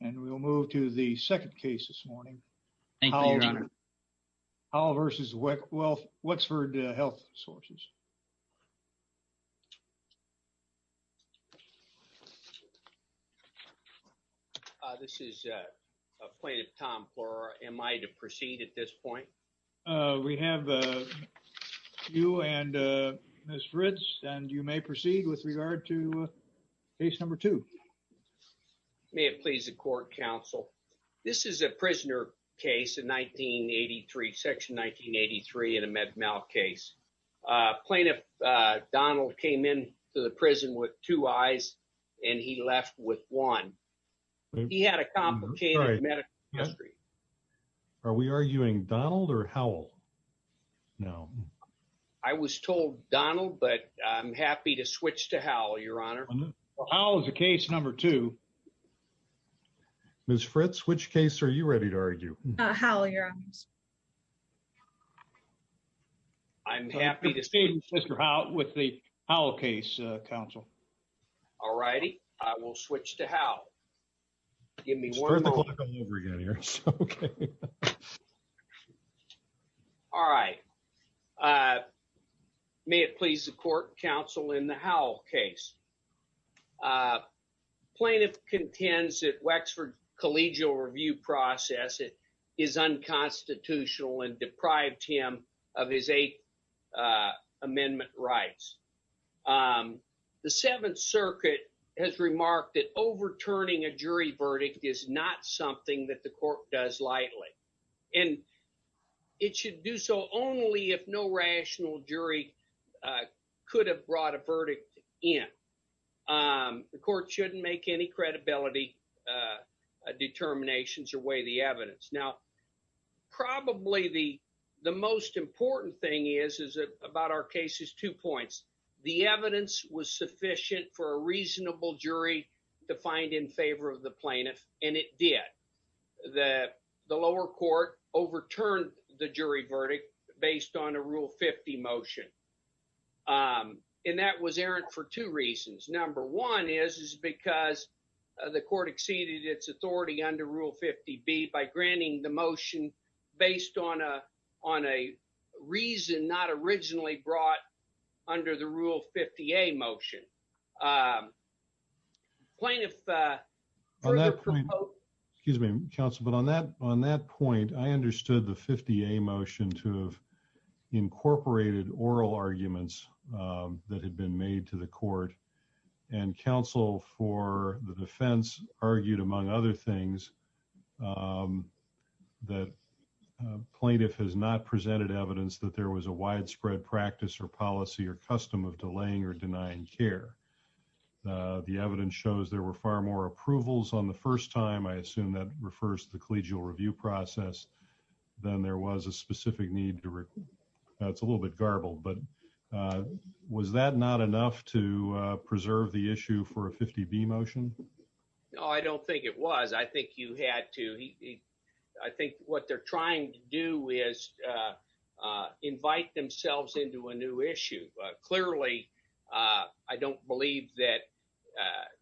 and we'll move to the second case this morning. Thank you, Your Honor. Howell v. Wexford Health Sources, Inc. This is plaintiff Tom Flora. Am I to proceed at this point? We have you and Ms. Ritz, and you may proceed with regard to case number two. May it please the Court, Counsel. This is a prisoner case in 1983, Section 1983, and a med mal case. Plaintiff Donald came into the prison with two eyes, and he left with one. He had a complicated medical history. Are we arguing Donald or Howell? No. I was told Donald, but I'm happy to switch to Howell, Your Honor. Howell is the case number two. Ms. Ritz, which case are you ready to argue? Howell, Your Honor. I'm happy to see Mr. Howell with the Howell case, Counsel. All righty, I will switch to Howell. All right. May it please the Court, Counsel, in the Howell case. Plaintiff contends that Wexford's collegial review process is unconstitutional and deprived him of his Eighth Amendment rights. The Seventh Circuit has remarked that overturning a jury verdict is not something that the court does lightly, and it should do so only if no rational jury could have brought a verdict in. The court shouldn't make any credibility determinations or weigh the evidence. Now, probably the most important thing about our case is two points. The evidence was sufficient for a reasonable jury to find in favor of the plaintiff, and it did. The lower court overturned the jury verdict based on a Rule 50 motion, and that was errant for two reasons. Number one is because the court exceeded its authority under Rule 50B by granting the motion based on a reason not originally brought under the Rule 50A motion. Plaintiff. Excuse me, Counsel, but on that on that point, I understood the 50A motion to have incorporated oral arguments that had been made to the court. And counsel for the defense argued, among other things, that plaintiff has not presented evidence that there was a widespread practice or policy or custom of delaying or denying care. The evidence shows there were far more approvals on the first time. I assume that refers to the collegial review process. Then there was a specific need to. It's a little bit garbled, but was that not enough to preserve the issue for a 50B motion? No, I don't think it was. I think you had to. I think what they're trying to do is invite themselves into a new issue. Clearly, I don't believe that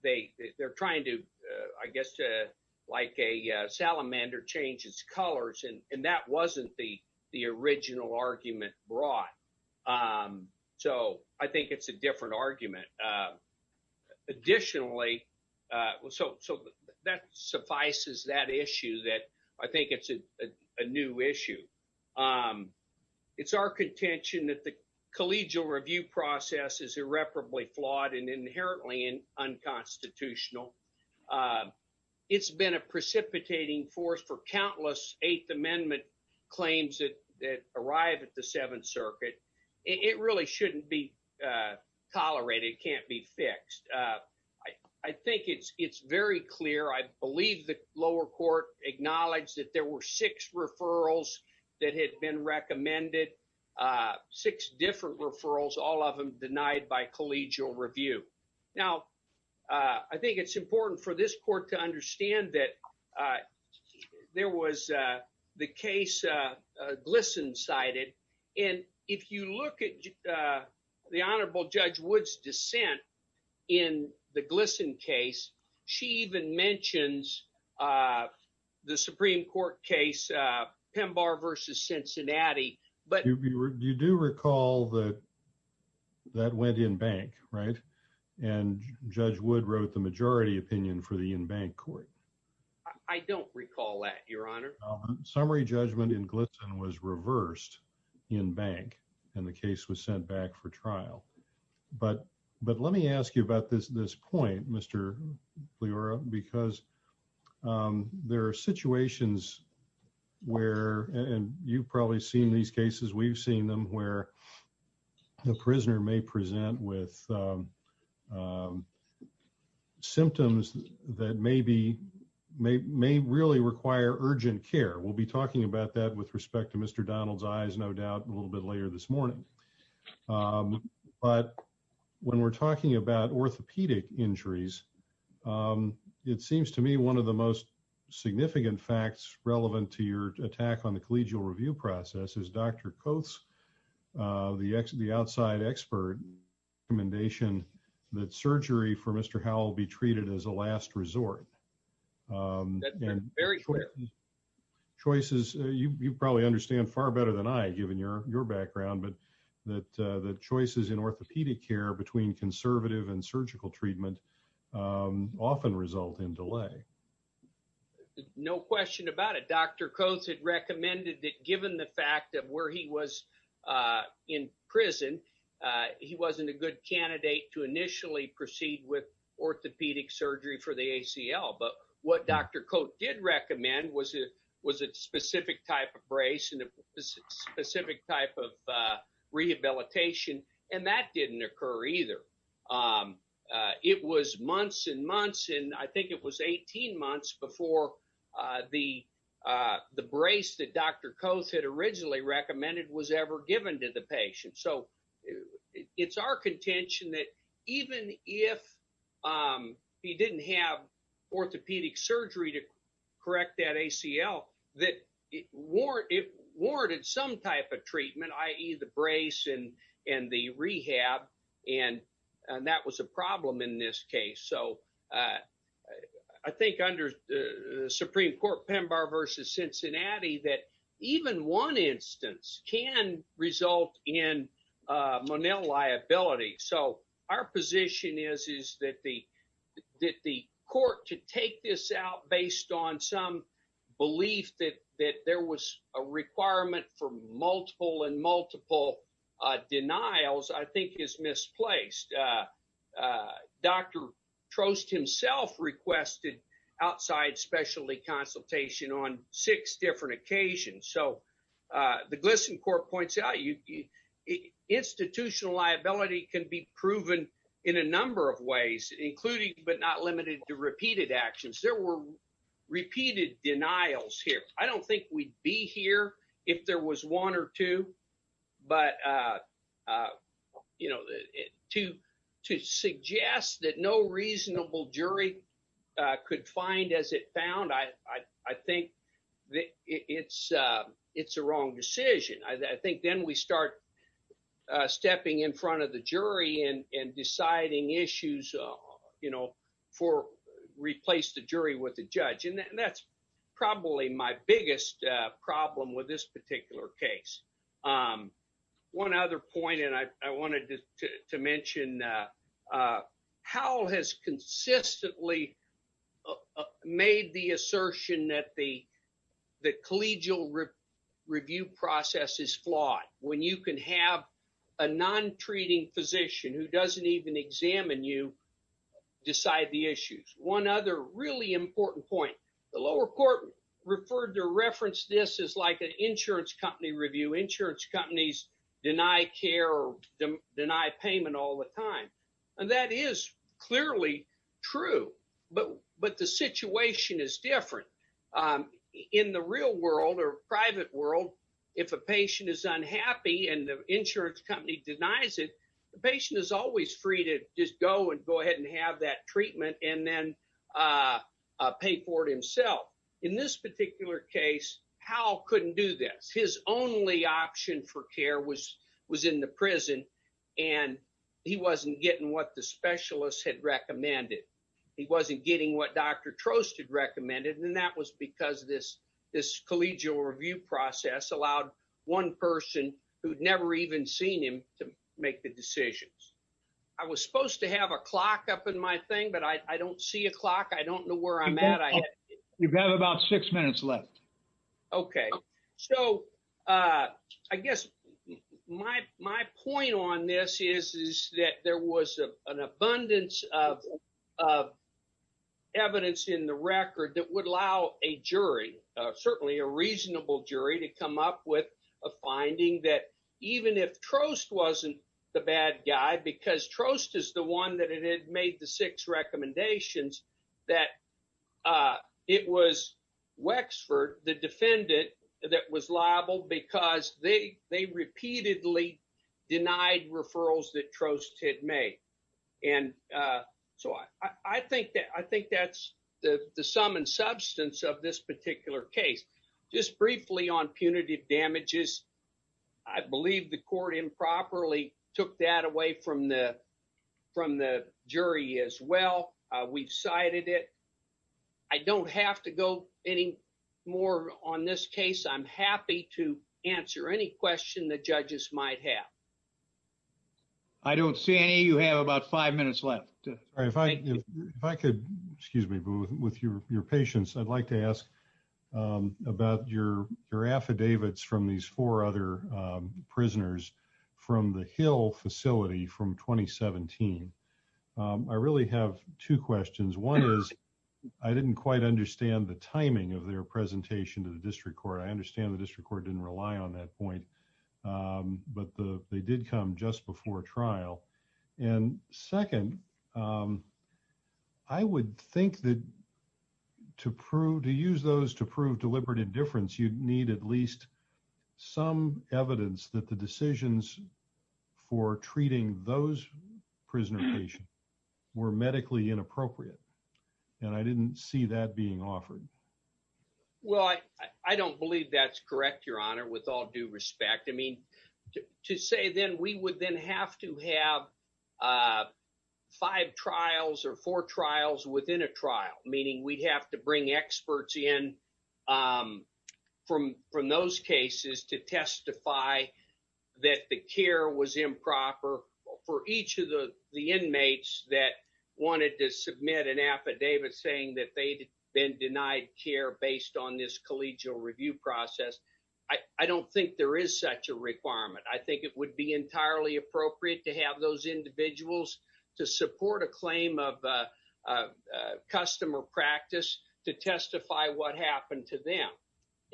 they they're trying to, I guess, to like a salamander changes colors. And that wasn't the the original argument brought. So I think it's a different argument. Additionally, so that suffices that issue that I think it's a new issue. It's our contention that the collegial review process is irreparably flawed and inherently unconstitutional. It's been a precipitating force for countless Eighth Amendment claims that arrive at the Seventh Circuit. It really shouldn't be tolerated. Can't be fixed. I think it's it's very clear. I believe the lower court acknowledged that there were six referrals that had been recommended, six different referrals, all of them denied by collegial review. Now, I think it's important for this court to understand that there was the case Glisson cited. And if you look at the Honorable Judge Wood's dissent in the Glisson case, she even mentions the Supreme Court case Pemba versus Cincinnati. But you do recall that that went in bank, right? And Judge Wood wrote the majority opinion for the in-bank court. I don't recall that, Your Honor. Summary judgment in Glisson was reversed in bank and the case was sent back for trial. But let me ask you about this this point, Mr. Leora, because there are situations where and you've probably seen these cases. We've seen them where the prisoner may present with symptoms that may be may may really require urgent care. We'll be talking about that with respect to Mr. Donald's eyes, no doubt, a little bit later this morning. But when we're talking about orthopedic injuries, it seems to me one of the most significant facts relevant to your attack on the collegial review process is Dr. Coates, the the outside expert commendation that surgery for Mr. Howell be treated as a last resort. Very quick choices. You probably understand far better than I, given your your background, but that the choices in orthopedic care between conservative and surgical treatment often result in delay. No question about it. Dr. Coates had recommended that given the fact that where he was in prison, he wasn't a good candidate to initially proceed with orthopedic surgery for the ACL. But what Dr. Coat did recommend was it was a specific type of brace and a specific type of rehabilitation. And that didn't occur either. It was months and months, and I think it was 18 months before the the brace that Dr. Coates had originally recommended was ever given to the patient. So it's our contention that even if he didn't have orthopedic surgery to correct that ACL, that it warranted some type of treatment, i.e. the brace and and the rehab. And that was a problem in this case. So I think under the Supreme Court, Pemba versus Cincinnati, that even one instance can result in Monell liability. So our position is, is that the that the court to take this out based on some belief that that there was a requirement for multiple and multiple denials, I think is misplaced. Dr. Trost himself requested outside specialty consultation on six different occasions. So the GLSEN court points out institutional liability can be proven in a number of ways, including but not limited to repeated actions. There were repeated denials here. I don't think we'd be here if there was one or two, but to suggest that no reasonable jury could find as it found, I think it's a wrong decision. I think then we start stepping in front of the jury and deciding issues, you know, for replace the jury with the judge. And that's probably my biggest problem with this particular case. One other point, and I wanted to mention how has consistently made the assertion that the the collegial review process is flawed when you can have a non treating physician who doesn't even examine you decide the issues. One other really important point, the lower court referred to reference. This is like an insurance company review. Insurance companies deny care, deny payment all the time. And that is clearly true. But the situation is different in the real world or private world. If a patient is unhappy and the insurance company denies it, the patient is always free to just go and go ahead and have that treatment and then pay for it himself. In this particular case, Hal couldn't do this. His only option for care was in the prison, and he wasn't getting what the specialists had recommended. He wasn't getting what Dr. Trost had recommended. And that was because this this collegial review process allowed one person who'd never even seen him to make the decisions. I was supposed to have a clock up in my thing, but I don't see a clock. I don't know where I'm at. You've got about six minutes left. Okay, so I guess my point on this is that there was an abundance of evidence in the record that would allow a jury, certainly a reasonable jury, to come up with a finding that even if Trost wasn't the bad guy, because Trost is the one that had made the six recommendations, that it was Wexford, the defendant, that was liable because they repeatedly denied referrals that Trost had made. And so I think that's the sum and substance of this particular case. Just briefly on punitive damages, I believe the court improperly took that away from the jury as well. We've cited it. I don't have to go any more on this case. I'm happy to answer any question the judges might have. I don't see any. You have about five minutes left. If I could, with your patience, I'd like to ask about your affidavits from these four other prisoners from the Hill facility from 2017. I really have two questions. One is, I didn't quite understand the timing of their presentation to the district court. I understand the district court didn't rely on that point. But they did come just before trial. And second, I would think that to use those to prove deliberate indifference, you'd need at least some evidence that the decisions for treating those prisoner patients were medically inappropriate. And I didn't see that being offered. Well, I don't believe that's correct, Your Honor, with all due respect. To say then we would then have to have five trials or four trials within a trial, meaning we'd have to bring experts in from those cases to testify that the care was improper for each of the inmates that wanted to submit an affidavit saying that they'd been denied care based on this collegial review process. I don't think there is such a requirement. I think it would be entirely appropriate to have those individuals to support a claim of customer practice to testify what happened to them.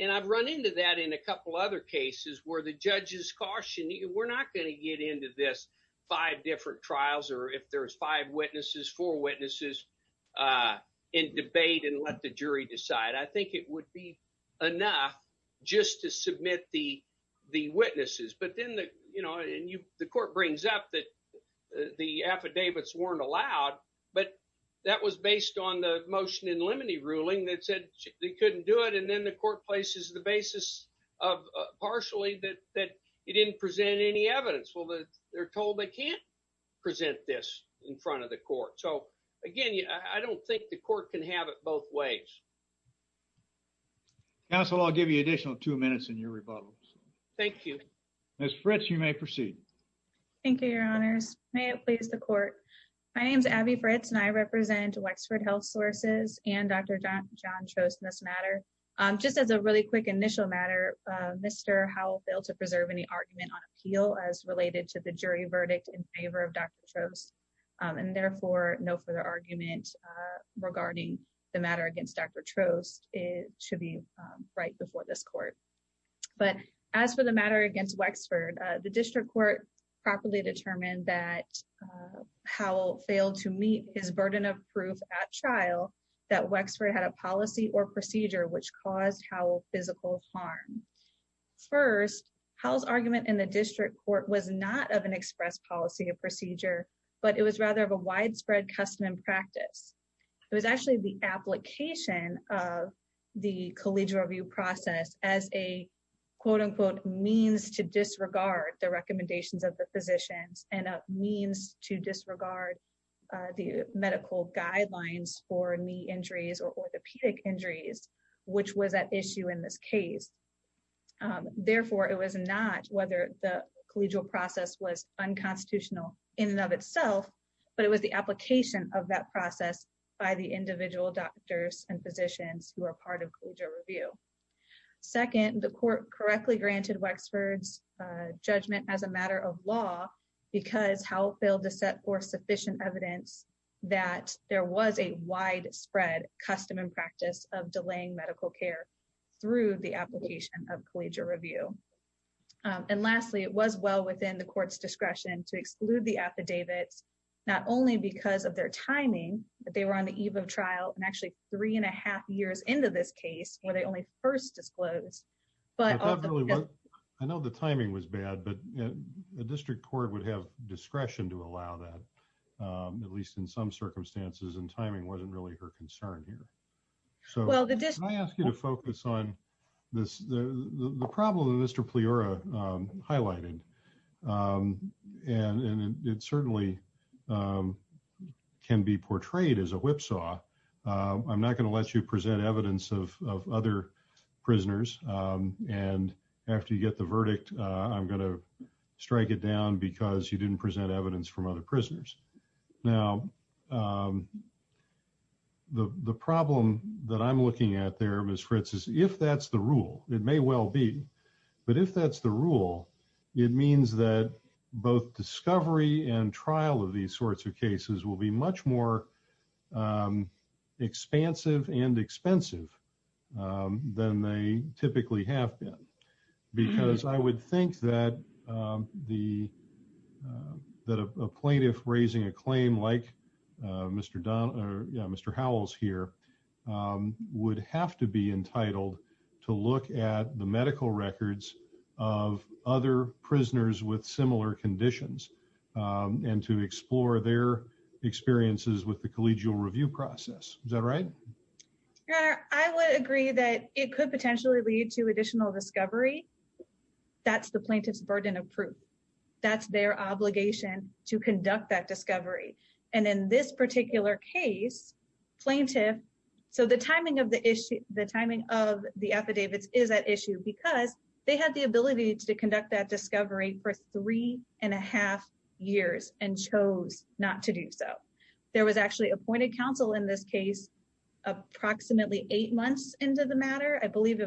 And I've run into that in a couple other cases where the judges cautioned, we're not going to get into this five different trials or if there's five witnesses, four witnesses and debate and let the jury decide. I think it would be enough just to submit the witnesses. But then the court brings up that the affidavits weren't allowed, but that was based on the motion in limine ruling that said they couldn't do it. And then the court places the basis of partially that it didn't present any evidence. Well, they're told they can't present this in front of the court. So, again, I don't think the court can have it both ways. Council, I'll give you additional two minutes in your rebuttal. Thank you. Ms. Fritz, you may proceed. Thank you, Your Honors. May it please the court. My name is Abby Fritz and I represent Wexford Health Sources and Dr. Just as a really quick initial matter, Mr. Howell failed to preserve any argument on appeal as related to the jury verdict in favor of Dr. Trost and therefore no further argument regarding the matter against Dr. Trost should be right before this court. But as for the matter against Wexford, the district court properly determined that Howell failed to meet his burden of proof at trial that Wexford had a policy or procedure which caused Howell physical harm. First, Howell's argument in the district court was not of an express policy or procedure, but it was rather of a widespread custom and practice. It was actually the application of the collegial review process as a quote unquote means to disregard the recommendations of the physicians and a means to disregard the medical guidelines for knee injuries or orthopedic injuries, which was at issue in this case. Therefore, it was not whether the collegial process was unconstitutional in and of itself, but it was the application of that process by the individual doctors and physicians who are part of collegial review. Second, the court correctly granted Wexford's judgment as a matter of law because Howell failed to set forth sufficient evidence that there was a widespread custom and practice of delaying medical care through the application of collegial review. And lastly, it was well within the court's discretion to exclude the affidavits, not only because of their timing, but they were on the eve of trial and actually three and a half years into this case where they only first disclosed. But I know the timing was bad, but the district court would have discretion to allow that, at least in some circumstances and timing wasn't really her concern here. So I asked you to focus on this, the problem that Mr pleura highlighted. And it certainly Can be portrayed as a whipsaw. I'm not going to let you present evidence of other prisoners and after you get the verdict. I'm going to strike it down because you didn't present evidence from other prisoners now. The problem that I'm looking at there was for instance, if that's the rule, it may well be. But if that's the rule, it means that both discovery and trial of these sorts of cases will be much more Expansive and expensive. Than they typically have been because I would think that the Plaintiff raising a claim like Mr. Don or Mr. Howell's here. Would have to be entitled to look at the medical records of other prisoners with similar conditions and to explore their experiences with the collegial review process. Is that right, I would agree that it could potentially lead to additional discovery. That's the plaintiff's burden of proof. That's their obligation to conduct that discovery. And in this particular case plaintiff. So the timing of the issue, the timing of the affidavits is at issue because they had the ability to conduct that discovery for three and a half years and chose not to do so. There was actually appointed counsel in this case approximately eight months into the matter, I believe,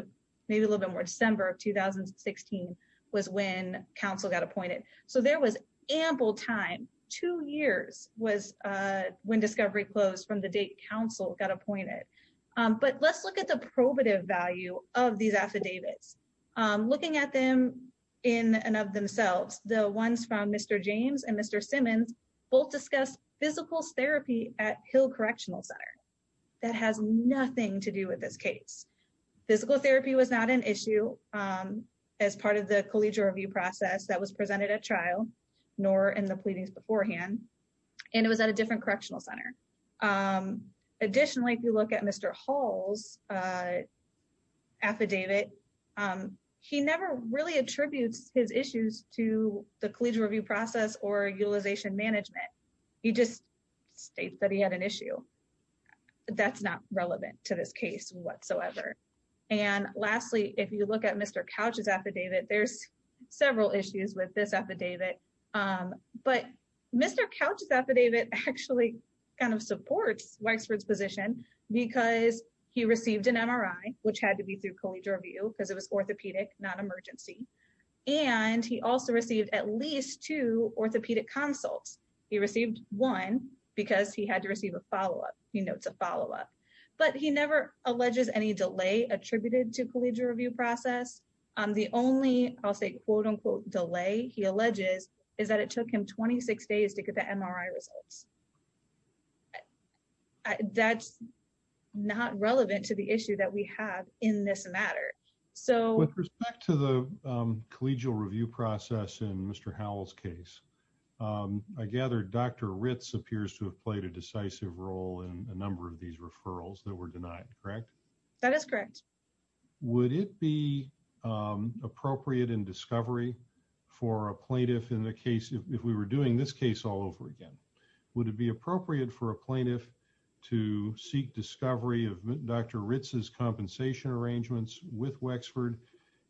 maybe a little bit more December of 2016 Was when counsel got appointed. So there was ample time two years was when discovery closed from the date counsel got appointed But let's look at the probative value of these affidavits looking at them in and of themselves. The ones from Mr. James and Mr. Simmons both discussed physical therapy at Hill Correctional Center. That has nothing to do with this case physical therapy was not an issue as part of the collegial review process that was presented at trial, nor in the pleadings beforehand. And it was at a different correctional center. Additionally, if you look at Mr. Hall's affidavit. He never really attributes his issues to the collegial review process or utilization management. He just states that he had an issue. That's not relevant to this case whatsoever. And lastly, if you look at Mr. Couch's affidavit. There's several issues with this affidavit. But Mr. Couch's affidavit actually kind of supports Weixford's position because he received an MRI, which had to be through collegial review because it was orthopedic, not emergency. And he also received at least two orthopedic consults. He received one because he had to receive a follow up. He notes a follow up. But he never alleges any delay attributed to collegial review process. The only I'll say quote unquote delay, he alleges, is that it took him 26 days to get the MRI results. That's not relevant to the issue that we have in this matter. With respect to the collegial review process in Mr. Howell's case, I gather Dr. Ritz appears to have played a decisive role in a number of these referrals that were denied, correct? That is correct. Would it be appropriate in discovery for a plaintiff in the case if we were doing this case all over again? Would it be appropriate for a plaintiff to seek discovery of Dr. Ritz's compensation arrangements with Wexford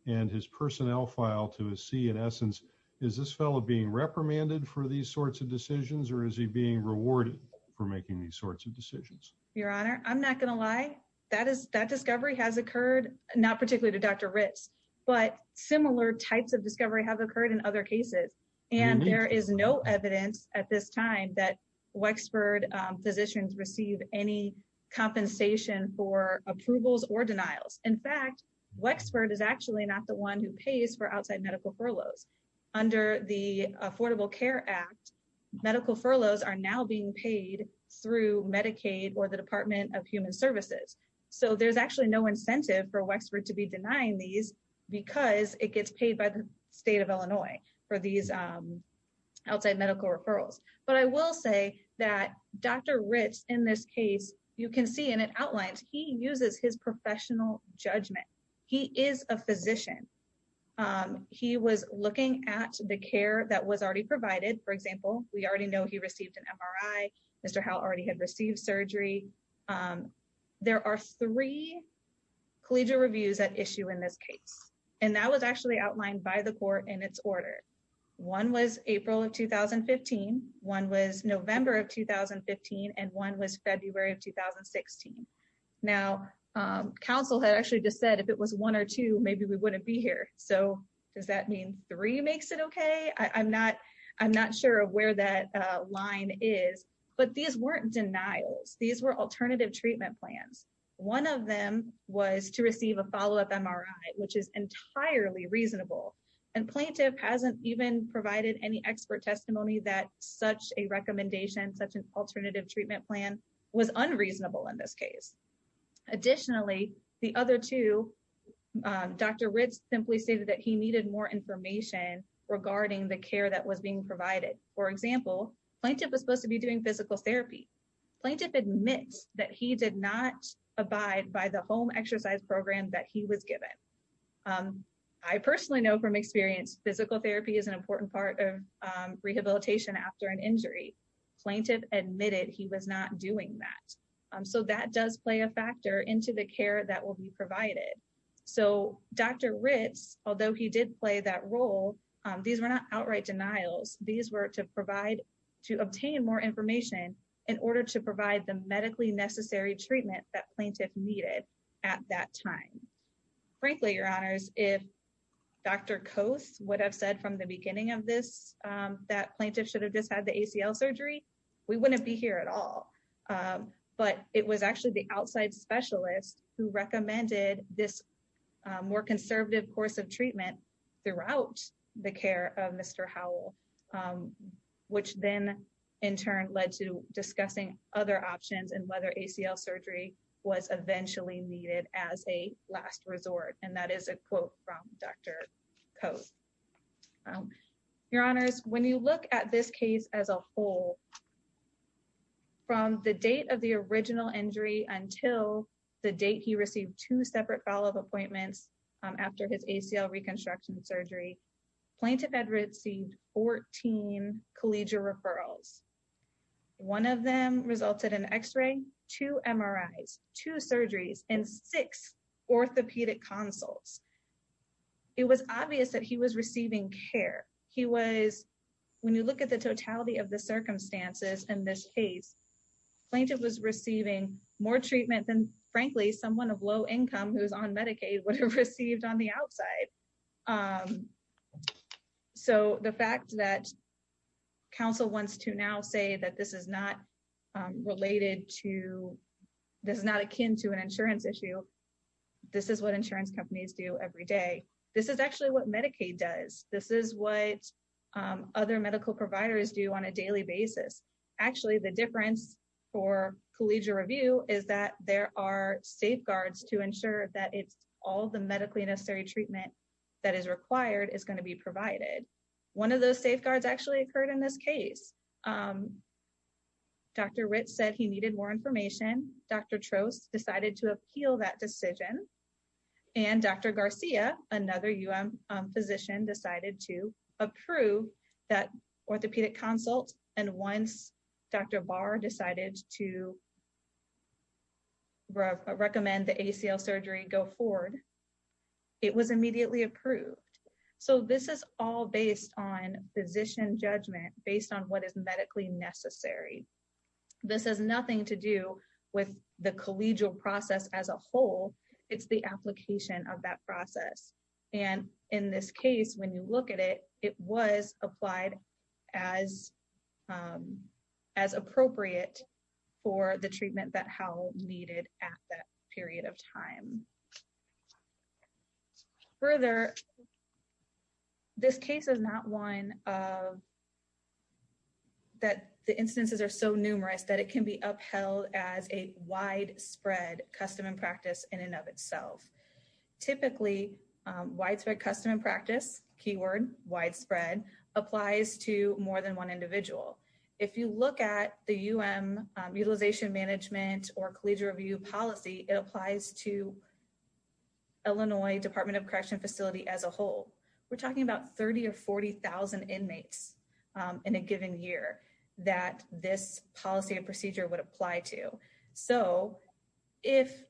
and his personnel file to see in essence, is this fellow being reprimanded for these sorts of decisions or is he being rewarded for making these sorts of decisions? Your Honor, I'm not going to lie. That discovery has occurred, not particularly to Dr. Ritz, but similar types of discovery have occurred in other cases. And there is no evidence at this time that Wexford physicians receive any compensation for approvals or denials. In fact, Wexford is actually not the one who pays for outside medical furloughs. Under the Affordable Care Act, medical furloughs are now being paid through Medicaid or the Department of Human Services. So there's actually no incentive for Wexford to be denying these because it gets paid by the state of Illinois for these outside medical referrals. But I will say that Dr. Ritz in this case, you can see and it outlines, he uses his professional judgment. He is a physician. He was looking at the care that was already provided. For example, we already know he received an MRI. Mr. Howell already had received surgery. There are three collegial reviews at issue in this case. And that was actually outlined by the court in its order. One was April of 2015, one was November of 2015, and one was February of 2016. Now, counsel had actually just said if it was one or two, maybe we wouldn't be here. So does that mean three makes it okay? I'm not sure of where that line is, but these weren't denials. These were alternative treatment plans. One of them was to receive a follow-up MRI, which is entirely reasonable. And plaintiff hasn't even provided any expert testimony that such a recommendation, such an alternative treatment plan was unreasonable in this case. Additionally, the other two, Dr. Ritz simply stated that he needed more information regarding the care that was being provided. For example, plaintiff was supposed to be doing physical therapy. Plaintiff admits that he did not abide by the home exercise program that he was given. I personally know from experience, physical therapy is an important part of rehabilitation after an injury. Plaintiff admitted he was not doing that. So that does play a factor into the care that will be provided. So Dr. Ritz, although he did play that role, these were not outright denials. These were to obtain more information in order to provide the medically necessary treatment that plaintiff needed at that time. Frankly, Your Honors, if Dr. Coase would have said from the beginning of this that plaintiff should have just had the ACL surgery, we wouldn't be here at all. But it was actually the outside specialist who recommended this more conservative course of treatment throughout the care of Mr. Howell. Which then in turn led to discussing other options and whether ACL surgery was eventually needed as a last resort. And that is a quote from Dr. Coase. Your Honors, when you look at this case as a whole, from the date of the original injury until the date he received two separate follow-up appointments after his ACL reconstruction surgery, plaintiff had received 14 collegial referrals. One of them resulted in x-ray, two MRIs, two surgeries, and six orthopedic consults. It was obvious that he was receiving care. When you look at the totality of the circumstances in this case, plaintiff was receiving more treatment than frankly someone of low income who is on Medicaid would have received on the outside. So the fact that counsel wants to now say that this is not related to, this is not akin to an insurance issue, this is what insurance companies do every day. This is actually what Medicaid does. This is what other medical providers do on a daily basis. Actually, the difference for collegial review is that there are safeguards to ensure that all the medically necessary treatment that is required is going to be provided. One of those safeguards actually occurred in this case. Dr. Ritz said he needed more information. Dr. Trost decided to appeal that decision. And Dr. Garcia, another UM physician, decided to approve that orthopedic consult. And once Dr. Barr decided to recommend the ACL surgery go forward, it was immediately approved. So this is all based on physician judgment, based on what is medically necessary. This has nothing to do with the collegial process as a whole. It's the application of that process. And in this case, when you look at it, it was applied as appropriate for the treatment that Hal needed at that period of time. Further, this case is not one that the instances are so numerous that it can be upheld as a widespread custom and practice in and of itself. Typically, widespread custom and practice, keyword widespread, applies to more than one individual. If you look at the UM utilization management or collegial review policy, it applies to Illinois Department of Correction facility as a whole. We're talking about 30 or 40,000 inmates in a given year that this policy and procedure would apply to. So if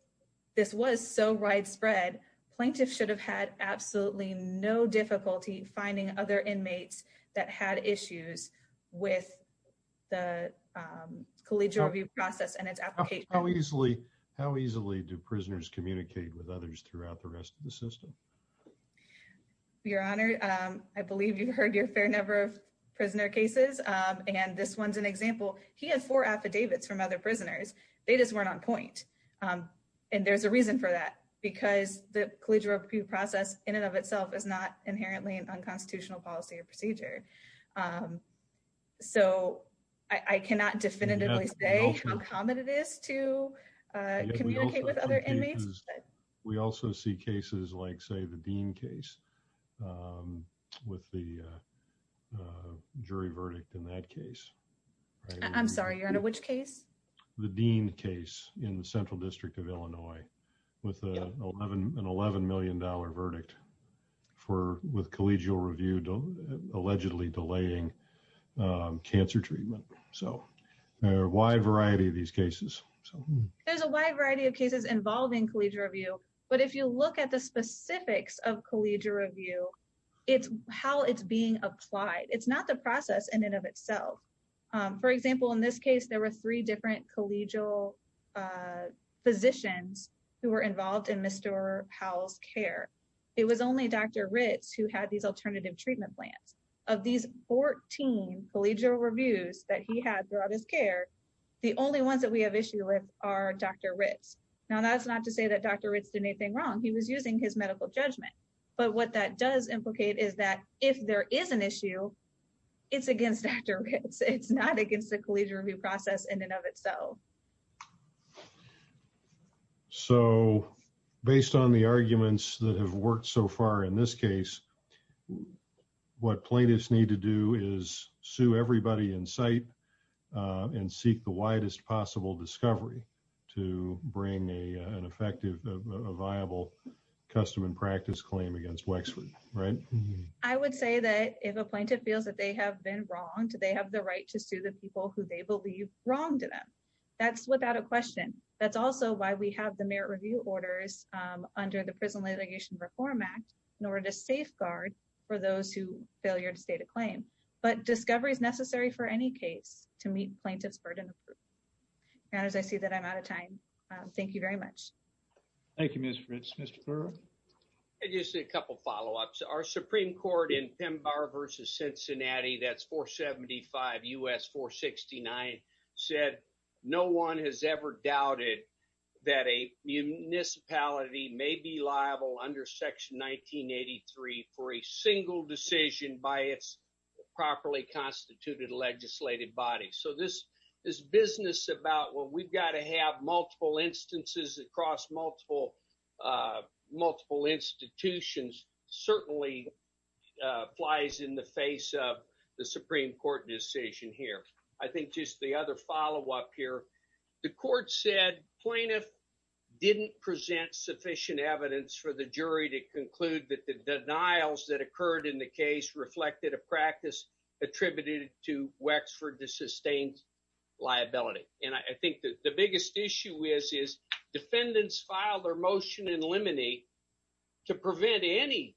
this was so widespread, plaintiffs should have had absolutely no difficulty finding other inmates that had issues with the collegial review process and its application. How easily do prisoners communicate with others throughout the rest of the system? Your Honor, I believe you've heard your fair number of prisoner cases. And this one's an example. He had four affidavits from other prisoners. They just weren't on point. And there's a reason for that, because the collegial review process in and of itself is not inherently an unconstitutional policy or procedure. So I cannot definitively say how common it is to communicate with other inmates. We also see cases like, say, the Dean case with the jury verdict in that case. I'm sorry, Your Honor, which case? The Dean case in the Central District of Illinois with an $11 million verdict with collegial review allegedly delaying cancer treatment. So there are a wide variety of these cases. There's a wide variety of cases involving collegial review. But if you look at the specifics of collegial review, it's how it's being applied. It's not the process in and of itself. For example, in this case, there were three different collegial physicians who were involved in Mr. Powell's care. It was only Dr. Ritz who had these alternative treatment plans. Of these 14 collegial reviews that he had throughout his care, the only ones that we have issue with are Dr. Ritz. Now, that's not to say that Dr. Ritz did anything wrong. He was using his medical judgment. But what that does implicate is that if there is an issue, it's against Dr. Ritz. It's not against the collegial review process in and of itself. So, based on the arguments that have worked so far in this case, what plaintiffs need to do is sue everybody in sight and seek the widest possible discovery to bring an effective, viable custom and practice claim against Wexford, right? I would say that if a plaintiff feels that they have been wronged, they have the right to sue the people who they believe wronged them. That's without a question. That's also why we have the Merit Review Orders under the Prison Allegation Reform Act in order to safeguard for those who failure to state a claim. But discovery is necessary for any case to meet plaintiff's burden of proof. And as I see that I'm out of time, thank you very much. Thank you, Ms. Ritz. Mr. Pearl? Just a couple follow-ups. Our Supreme Court in Pemba versus Cincinnati, that's 475 U.S. 469, said no one has ever doubted that a municipality may be liable under Section 1983 for a single decision by its properly constituted legislative body. So this business about, well, we've got to have multiple instances across multiple institutions certainly flies in the face of the Supreme Court decision here. I think just the other follow-up here. The court said plaintiff didn't present sufficient evidence for the jury to conclude that the denials that occurred in the case reflected a practice attributed to Wexford to sustain liability. And I think that the biggest issue is defendants filed their motion in limine to prevent any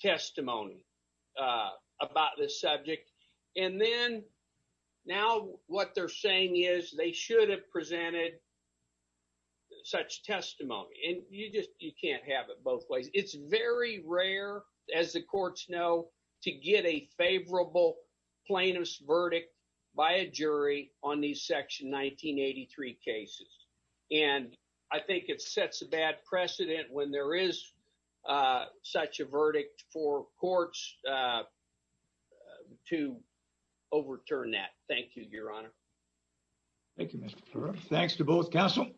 testimony about this subject. And then now what they're saying is they should have presented such testimony. And you can't have it both ways. It's very rare, as the courts know, to get a favorable plaintiff's verdict by a jury on these Section 1983 cases. And I think it sets a bad precedent when there is such a verdict for courts to overturn that. Thank you, Your Honor. Thank you, Mr. Kerr. Thanks to both counsel.